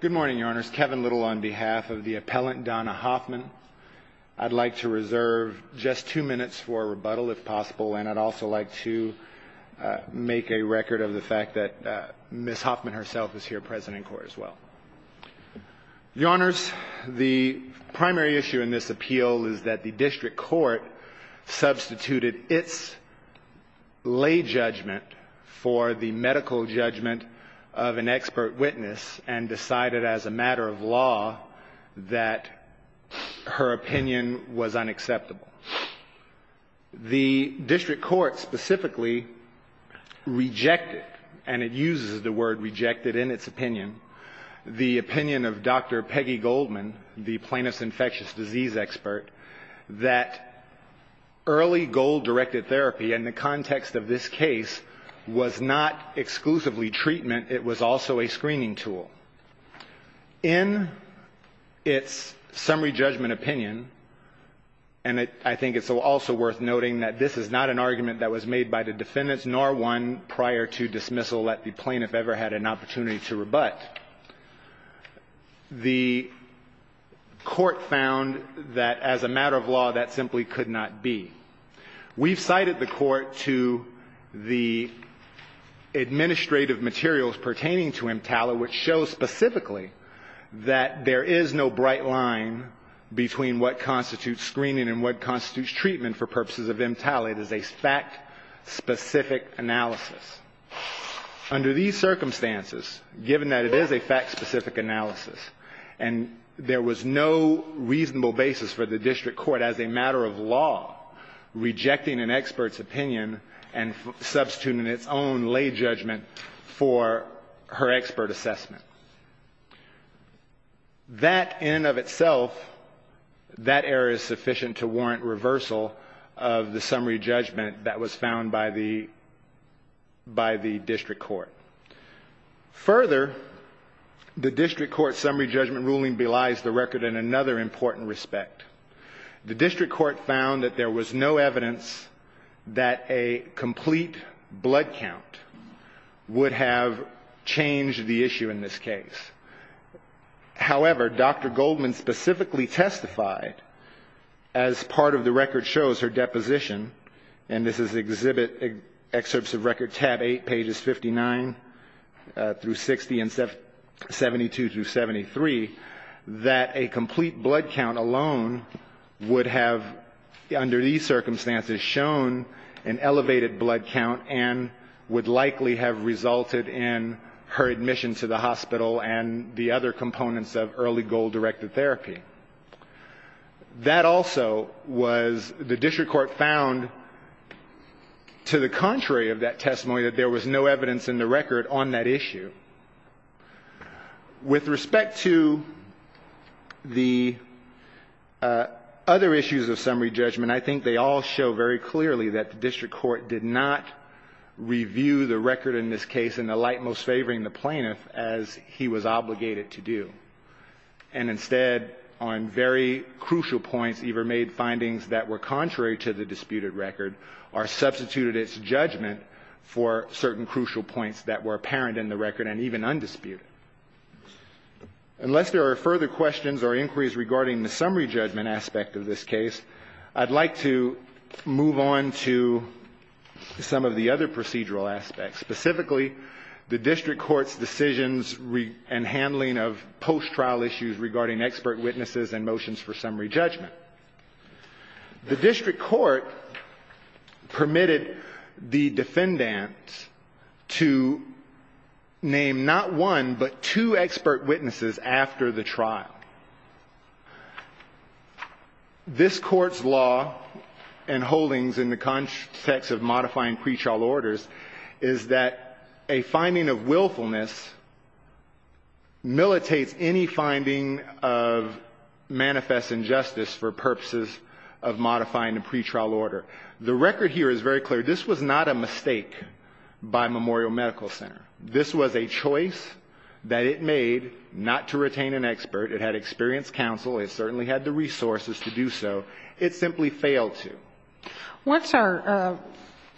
Good morning, Your Honors. Kevin Little on behalf of the appellant Donna Hoffman. I'd like to reserve just two minutes for rebuttal, if possible, and I'd also like to make a record of the fact that Ms. Hoffman herself is here present in court as well. Your Honors, the primary issue in this appeal is that the district court substituted its lay judgment for the medical judgment of an expert witness and decided as a matter of law that her opinion was unacceptable. The district court specifically rejected, and it uses the word rejected in its opinion, the opinion of Dr. Peggy Goldman, the plaintiff's infectious disease expert, that early goal-directed therapy in the context of this case was not exclusively treatment. It was also a screening tool. In its summary judgment opinion, and I think it's also worth noting that this is not an argument that was made by the defendants, nor one prior to dismissal that the plaintiff ever had an opportunity to rebut. The court found that as a matter of law, that simply could not be. We've cited the court to the administrative materials pertaining to EMTALA, which shows specifically that there is no bright line between what constitutes screening and what constitutes treatment for purposes of EMTALA. It is a fact-specific analysis. Under these circumstances, given that it is a fact-specific analysis, and there was no reasonable basis for the district court as a matter of law rejecting an expert's opinion and substituting its own lay judgment for her expert assessment. That in and of itself, that error is sufficient to warrant reversal of the summary judgment that was found by the district court. Further, the district court summary judgment ruling belies the record in another important respect. The district court found that there was no evidence that a complete blood count would have changed the issue in this case. However, Dr. Goldman specifically testified, as part of the record shows her deposition, and this is excerpts of record tab 8, pages 59 through 60 and 72 through 73, that a complete blood count alone would have, under these circumstances, shown an elevated blood count and would likely have resulted in her admission to the hospital and the other components of early goal-directed therapy. That also was the district court found, to the contrary of that testimony, that there was no evidence in the record on that issue. With respect to the other issues of summary judgment, I think they all show very clearly that the district court did not review the record in this case in the light most favoring the plaintiff, as he was obligated to do. And instead, on very crucial points, either made findings that were contrary to the disputed record or substituted its judgment for certain crucial points that were apparent in the record and even undisputed. Unless there are further questions or inquiries regarding the summary judgment aspect of this case, I'd like to move on to some of the other procedural aspects, specifically the district court's decisions and handling of post-trial issues regarding expert witnesses and motions for summary judgment. The district court permitted the defendant to name not one, but two expert witnesses after the trial. This Court's law and holdings in the context of modifying pretrial orders is that a finding of willfulness militates any finding of manifest injustice for purposes of modifying a pretrial order. The record here is very clear. This was not a mistake by Memorial Medical Center. This was a choice that it made not to retain an expert. It had experienced counsel. It certainly had the resources to do so. It simply failed to. What's our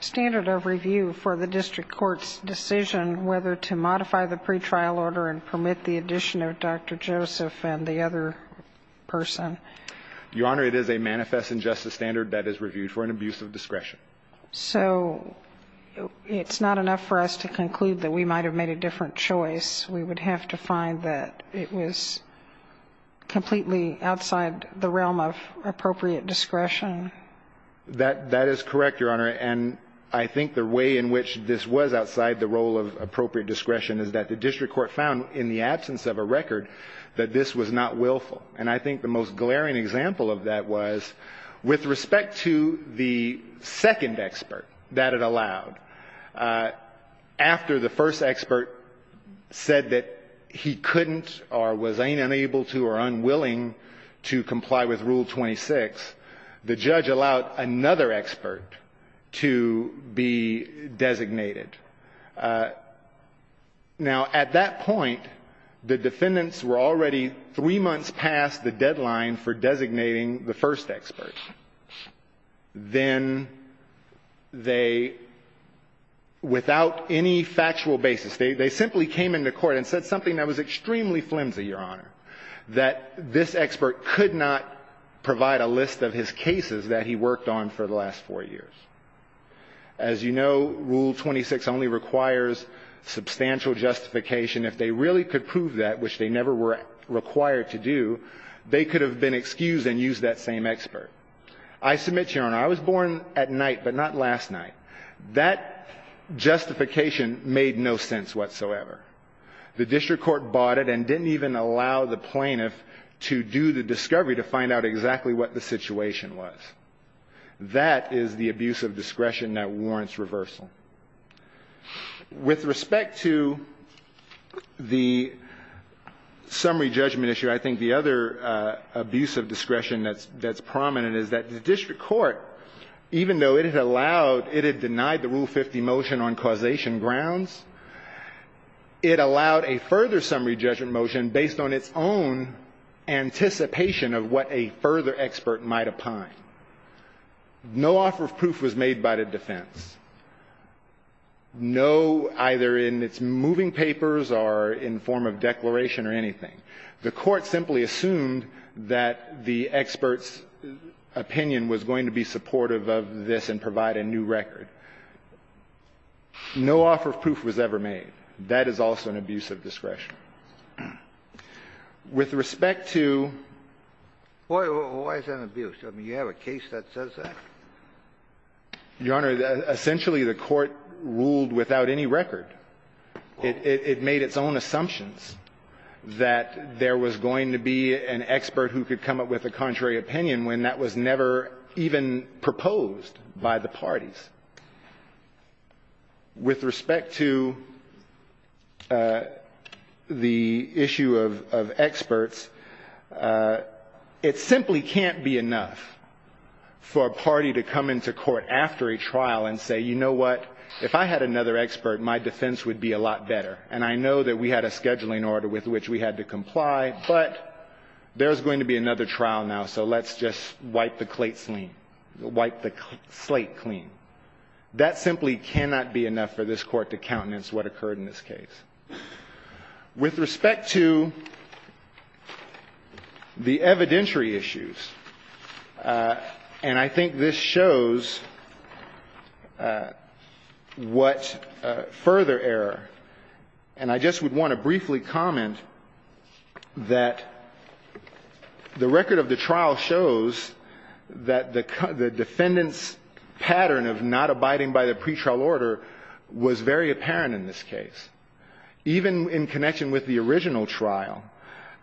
standard of review for the district court's decision whether to modify the pretrial order and permit the addition of Dr. Joseph and the other person? Your Honor, it is a manifest injustice standard that is reviewed for an abuse of discretion. So it's not enough for us to conclude that we might have made a different choice. We would have to find that it was completely outside the realm of appropriate discretion. That is correct, Your Honor. And I think the way in which this was outside the role of appropriate discretion is that the district court found in the absence of a record that this was not willful. And I think the most glaring example of that was with respect to the second expert that it allowed. After the first expert said that he couldn't or was unable to or unwilling to comply with Rule 26, the judge allowed another expert to be designated. Now, at that point, the defendants were already three months past the deadline for designating the first expert. Then they, without any factual basis, they simply came into court and said something that was extremely flimsy, Your Honor, that this expert could not provide a list of his cases that he worked on for the last four years. As you know, Rule 26 only requires substantial justification. If they really could prove that, which they never were required to do, they could have been excused and used that same expert. I submit, Your Honor, I was born at night, but not last night. That justification made no sense whatsoever. The district court bought it and didn't even allow the plaintiff to do the discovery to find out exactly what the situation was. That is the abuse of discretion that warrants reversal. With respect to the summary judgment issue, I think the other abuse of discretion that's prominent is that the district court, even though it had allowed, it had denied the Rule 50 motion on causation grounds, it allowed a further summary judgment motion based on its own anticipation of what a further expert might opine. No offer of proof was made by the defense. No, either in its moving papers or in form of declaration or anything. The court simply assumed that the expert's opinion was going to be supportive of this and provide a new record. No offer of proof was ever made. That is also an abuse of discretion. With respect to the other abuse of discretion, I think the other abuse of discretion is that essentially the court ruled without any record. It made its own assumptions that there was going to be an expert who could come up with a contrary opinion when that was never even proposed by the parties. With respect to the issue of experts, it simply can't be enough for a party to come into court after a trial and say, you know what, if I had another expert, my defense would be a lot better. And I know that we had a scheduling order with which we had to comply, but there's going to be another trial now, so let's just wipe the slate clean. That simply cannot be enough for this court to countenance what occurred in this case. With respect to the evidentiary issues, and I think this shows what further error, and I just would want to briefly comment that the record of the trial shows that the defendant's pattern of not abiding by the pretrial order was very apparent in this case. Even in connection with the original trial,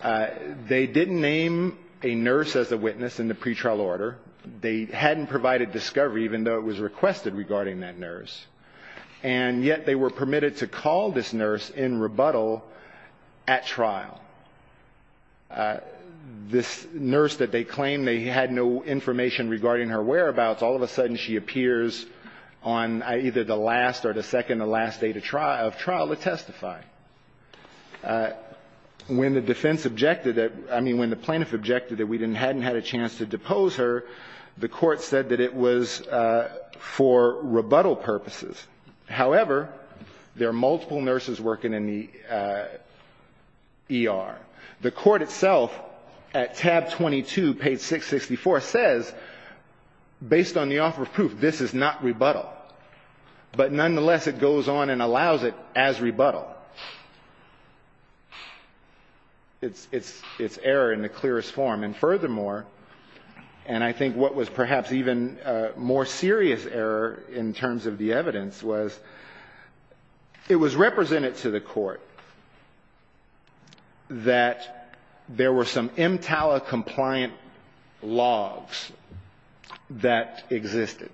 they didn't name a nurse as a witness in the pretrial order. They hadn't provided discovery, even though it was requested regarding that nurse. And yet they were permitted to call this nurse in rebuttal at trial. This nurse that they claimed they had no information regarding her whereabouts, all of a sudden she appears on either the last or the second or last day of trial to testify. When the defense objected, I mean, when the plaintiff objected that we hadn't had a chance to depose her, the Court said that it was for rebuttal purposes. However, there are multiple nurses working in the ER. The Court itself, at tab 22, page 664, says, based on the offer of proof, this is not rebuttal. But nonetheless, it goes on and allows it as rebuttal. It's error in the clearest form. And furthermore, and I think what was perhaps even more serious error in terms of the evidence, is that there were some MTALA-compliant logs that existed.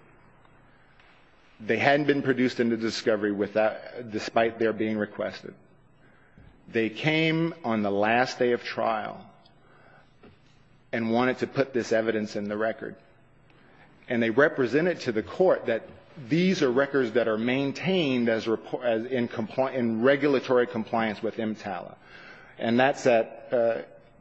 They hadn't been produced into discovery despite their being requested. They came on the last day of trial and wanted to put this evidence in the record. And they represented to the Court that these are records that are maintained in regulatory compliance with MTALA. And that's at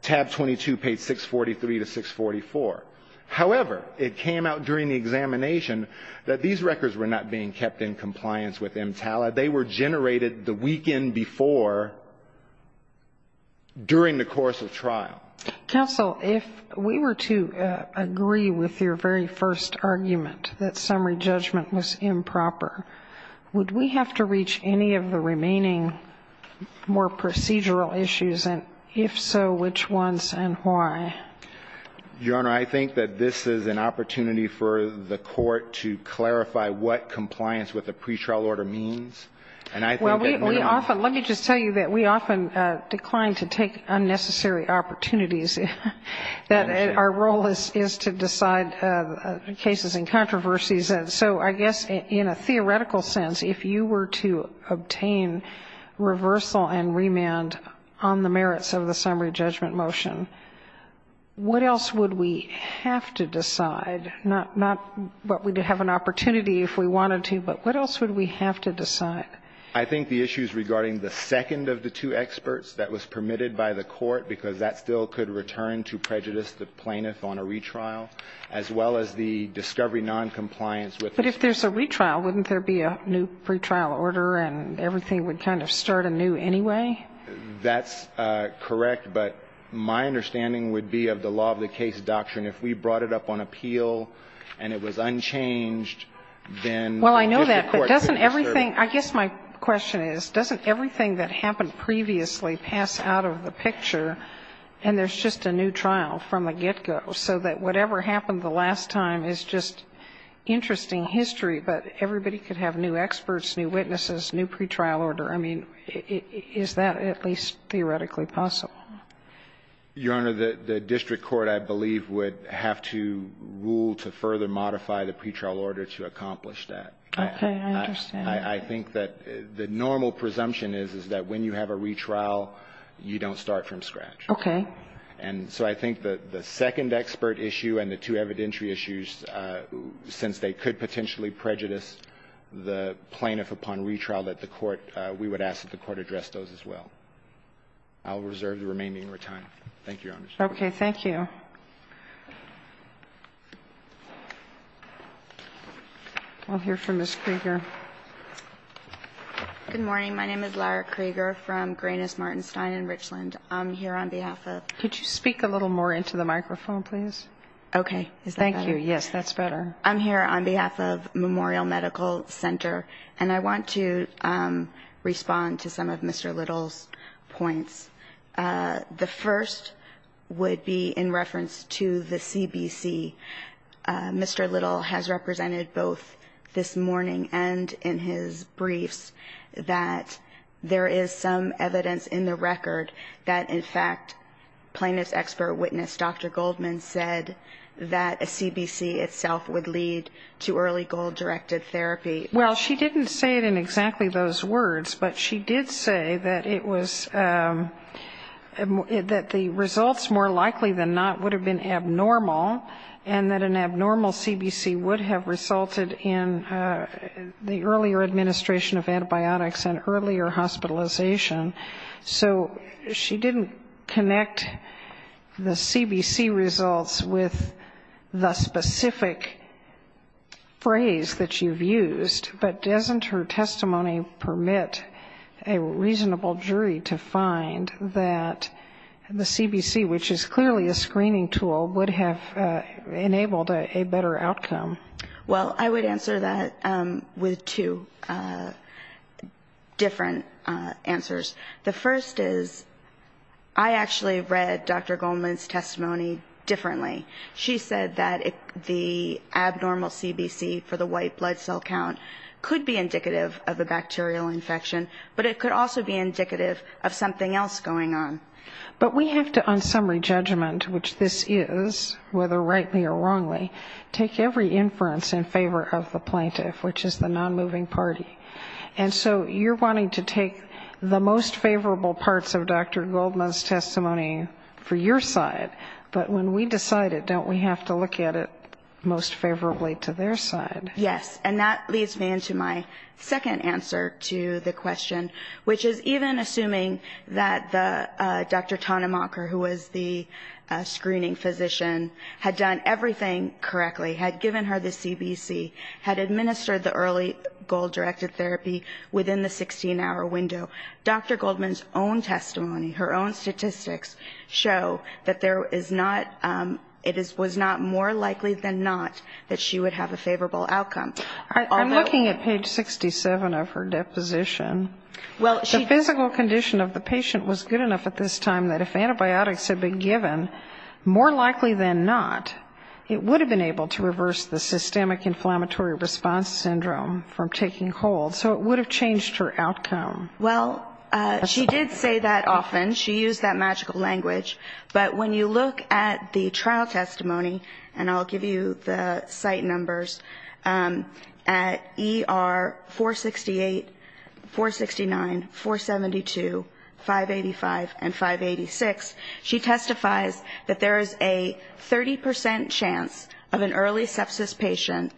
tab 22, page 643 to 644. However, it came out during the examination that these records were not being kept in compliance with MTALA. They were generated the weekend before during the course of trial. Counsel, if we were to agree with your very first argument, that summary judgment was improper, would we have to reach any of the remaining more procedural issues? And if so, which ones and why? Your Honor, I think that this is an opportunity for the Court to clarify what compliance with a pretrial order means. And I think that we often Let me just tell you that we often decline to take unnecessary opportunities, that our role is to decide cases and controversies. And so I guess in a theoretical sense, if you were to obtain reversal and remand on the merits of the summary judgment motion, what else would we have to decide? Not what we'd have an opportunity if we wanted to, but what else would we have to decide? I think the issues regarding the second of the two experts that was permitted by the Court, because that still could return to prejudice the plaintiff on a retrial, as well as the discovery noncompliance with the But if there's a retrial, wouldn't there be a new pretrial order and everything would kind of start anew anyway? That's correct, but my understanding would be of the law of the case doctrine. If we brought it up on appeal and it was unchanged, then Well, I know that, but doesn't everything I guess my question is, doesn't everything that happened previously pass out of the picture and there's just a new trial from the get-go so that whatever happened the last time is just interesting history, but everybody could have new experts, new witnesses, new pretrial order? I mean, is that at least theoretically possible? Your Honor, the district court, I believe, would have to rule to further modify the pretrial order to accomplish that. Okay. I understand. I think that the normal presumption is, is that when you have a retrial, you don't start from scratch. Okay. And so I think the second expert issue and the two evidentiary issues, since they could potentially prejudice the plaintiff upon retrial, that the Court, we would ask that the Court address those as well. I'll reserve the remaining of your time. Thank you, Your Honor. Okay. Thank you. I'll hear from Ms. Krieger. Good morning. My name is Lara Krieger from Greenis, Martin Stein in Richland. I'm here on behalf of Could you speak a little more into the microphone, please? Okay. Thank you. Yes, that's better. I'm here on behalf of Memorial Medical Center, and I want to respond to some of Mr. Little's points. The first would be in reference to the CBC. Mr. Little has represented both this morning and in his briefs that there is some evidence in the record that, in fact, plaintiff's expert witness, Dr. Goldman, said that a CBC itself would lead to early goal-directed therapy. Well, she didn't say it in exactly those words, but she did say that it was the results more likely than not would have been abnormal, and that an abnormal CBC would have resulted in the earlier administration of antibiotics and earlier hospitalization. So she didn't connect the CBC results with the specific phrase that you've used. But doesn't her testimony permit a reasonable jury to find that the CBC, which is clearly a screening tool, would have enabled a better outcome? Well, I would answer that with two different answers. The first is I actually read Dr. Goldman's testimony differently. She said that the abnormal CBC for the white blood cell count could be indicative of a bacterial infection, but it could also be indicative of something else going on. But we have to, on summary judgment, which this is, whether rightly or wrongly, take every inference in favor of the plaintiff, which is the non-moving party. And so you're wanting to take the most favorable parts of Dr. Goldman's testimony for your side, but when we decide it, don't we have to look at it most favorably to their side? Yes, and that leads me into my second answer to the question, which is even assuming that Dr. Tonnemacher, who was the screening physician, had done everything correctly, had given her the CBC, had administered the early goal-directed therapy within the 16-hour window. Dr. Goldman's own testimony, her own statistics, show that there is not, it was not more likely than not that she would have a favorable outcome. I'm looking at page 67 of her deposition. The physical condition of the patient was good enough at this time that if antibiotics had been given, more likely than not, it would have been able to reverse the systemic inflammatory response syndrome from taking hold. So it would have changed her outcome. Well, she did say that often. She used that magical language. But when you look at the trial testimony, and I'll give you the site numbers, at ER 468, 469, 472, 585, and 586, she testifies that there is a 30 percent chance of an early sepsis patient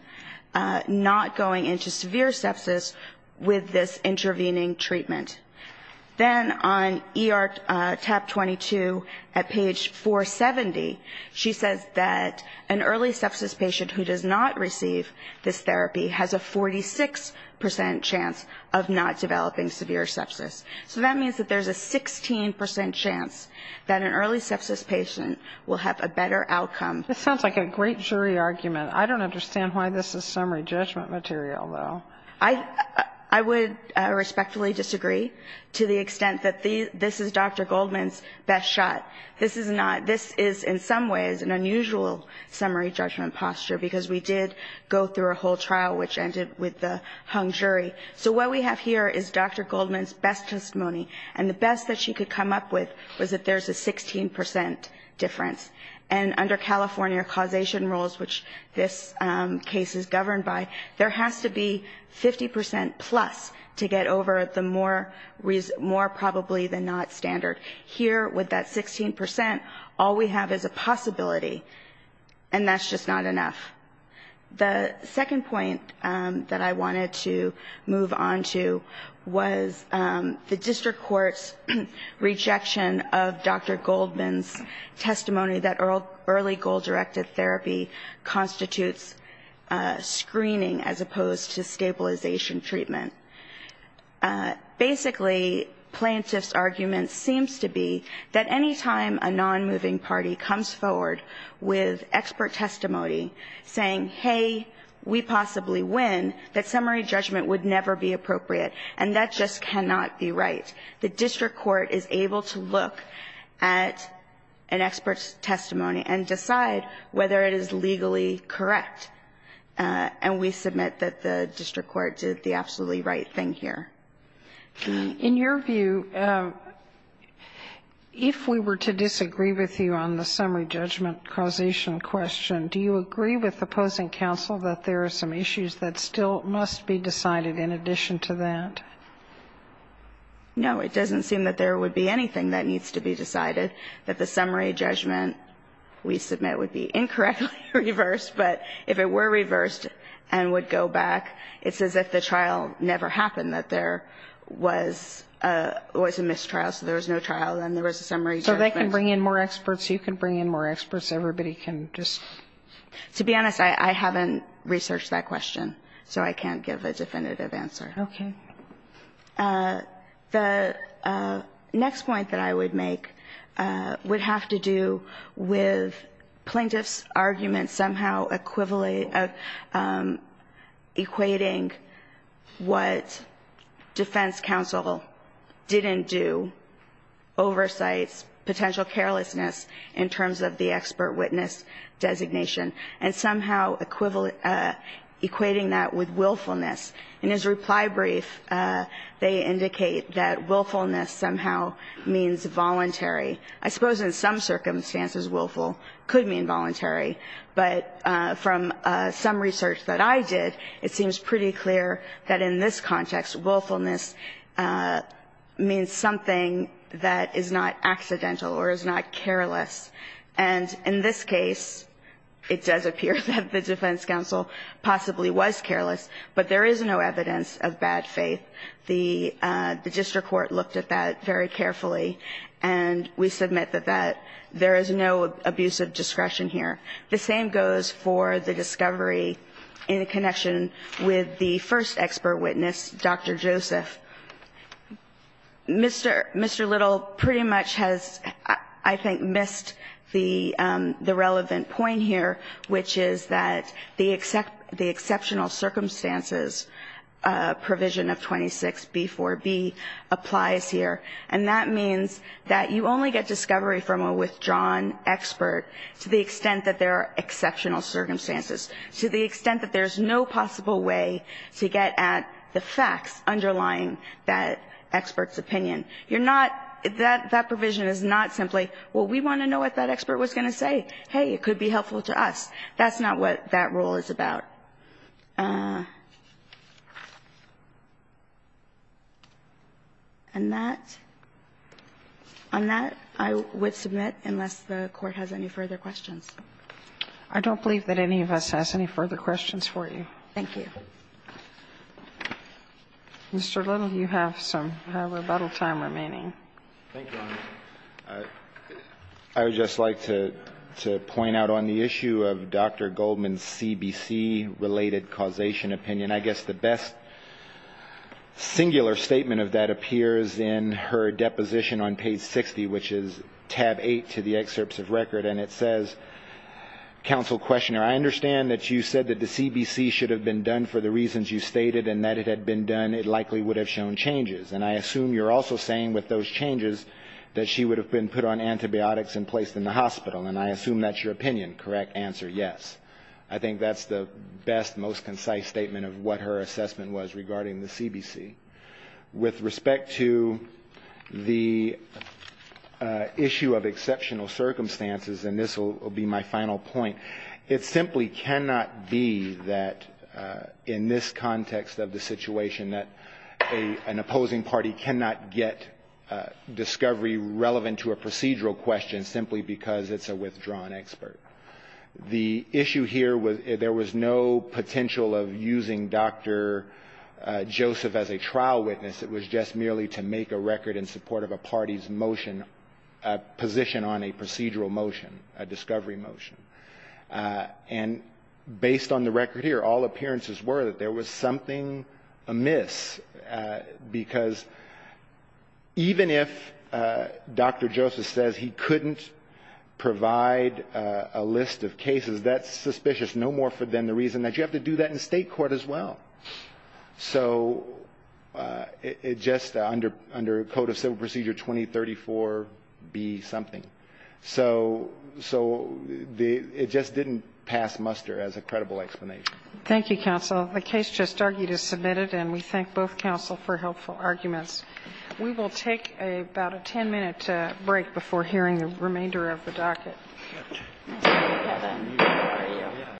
not going into severe sepsis with this intervening treatment. Then on ER TAP 22 at page 470, she says that an early sepsis patient who does not receive this therapy has a 46 percent chance of not developing severe sepsis. So that means that there's a 16 percent chance that an early sepsis patient will have a better outcome. This sounds like a great jury argument. I don't understand why this is summary judgment material, though. I would respectfully disagree to the extent that this is Dr. Goldman's best shot. This is in some ways an unusual summary judgment posture, because we did go through a whole trial which ended with the hung jury. So what we have here is Dr. Goldman's best testimony. And the best that she could come up with was that there's a 16 percent difference. And under California causation rules, which this case is governed by, there has to be 50 percent plus to get over the more probably than not standard. Here, with that 16 percent, all we have is a possibility. And that's just not enough. The second point that I wanted to move on to was the district court's rejection of Dr. Goldman's testimony that early goal-directed therapy constitutes screening as opposed to stabilization treatment. Basically, plaintiff's argument seems to be that any time a nonmoving party comes forward with expert testimony saying, hey, we possibly win, that summary judgment would never be appropriate, and that just cannot be right. The district court is able to look at an expert's testimony and decide whether it is legally correct, and we submit that the district court did the absolutely right thing here. In your view, if we were to disagree with you on the summary judgment causation question, do you agree with opposing counsel that there are some issues that still must be decided in addition to that? No, it doesn't seem that there would be anything that needs to be decided, that the summary judgment we submit would be incorrectly reversed. But if it were reversed and would go back, it's as if the trial never happened, that there was a mistrial, so there was no trial, then there was a summary judgment. So they can bring in more experts, you can bring in more experts, everybody can just... To be honest, I haven't researched that question, so I can't give a definitive answer. Okay. The next point that I would make would have to do with plaintiff's argument somehow equating what defense counsel didn't do, oversights, potential carelessness in terms of the expert witness designation, and somehow equating that with willfulness. In his reply brief, they indicate that willfulness somehow means voluntary. I suppose in some circumstances willful could mean voluntary, but from some research that I did, it seems pretty clear that in this context willfulness means something that is not accidental or is not careless. And in this case, it does appear that the defense counsel possibly was careless, but there is no evidence of bad faith. The district court looked at that very carefully, and we submit that there is no abusive discretion here. The same goes for the discovery in connection with the first expert witness, Dr. Joseph. Mr. Little pretty much has, I think, missed the relevant point here, which is that the exceptional circumstances provision of 26B4B applies here, and that means that you only get discovery from a withdrawn expert to the extent that there are exceptional circumstances, to the extent that there's no possible way to get at the facts underlying that expert's opinion. That provision is not simply, well, we want to know what that expert was going to say. Hey, it could be helpful to us. That's not what that rule is about. On that, I would submit, unless the Court has any further questions. I don't believe that any of us has any further questions for you. Thank you. Mr. Little, you have some rebuttal time remaining. Thank you, Your Honor. I would just like to point out on the issue of Dr. Goldman's CBC-related causation opinion, I guess the best singular statement of that appears in her deposition on page 60, which is tab 8 to the excerpts of record, and it says, counsel questioner, I understand that you said that the CBC should have been done for the reasons you stated, and that it had been done, it likely would have shown changes, and I assume you're also saying with those changes that she would have been put on antibiotics and placed in the hospital, and I assume that's your opinion. Correct answer, yes. I think that's the best, most concise statement of what her assessment was regarding the CBC. With respect to the issue of exceptional circumstances, and this will be my final point, it simply cannot be that, in this context of the situation, that an opposing party cannot get discovery relevant to a procedural question simply because it's a withdrawn expert. The issue here was there was no potential of using Dr. Joseph as a trial judge. As a trial witness, it was just merely to make a record in support of a party's motion, a position on a procedural motion, a discovery motion. And based on the record here, all appearances were that there was something amiss, because even if Dr. Joseph says he couldn't provide a list of cases, that's suspicious. No more for them the reason that you have to do that in State court as well. So it just, under Code of Civil Procedure 2034, be something. So it just didn't pass muster as a credible explanation. Thank you, counsel. The case just argued is submitted, and we thank both counsel for helpful arguments.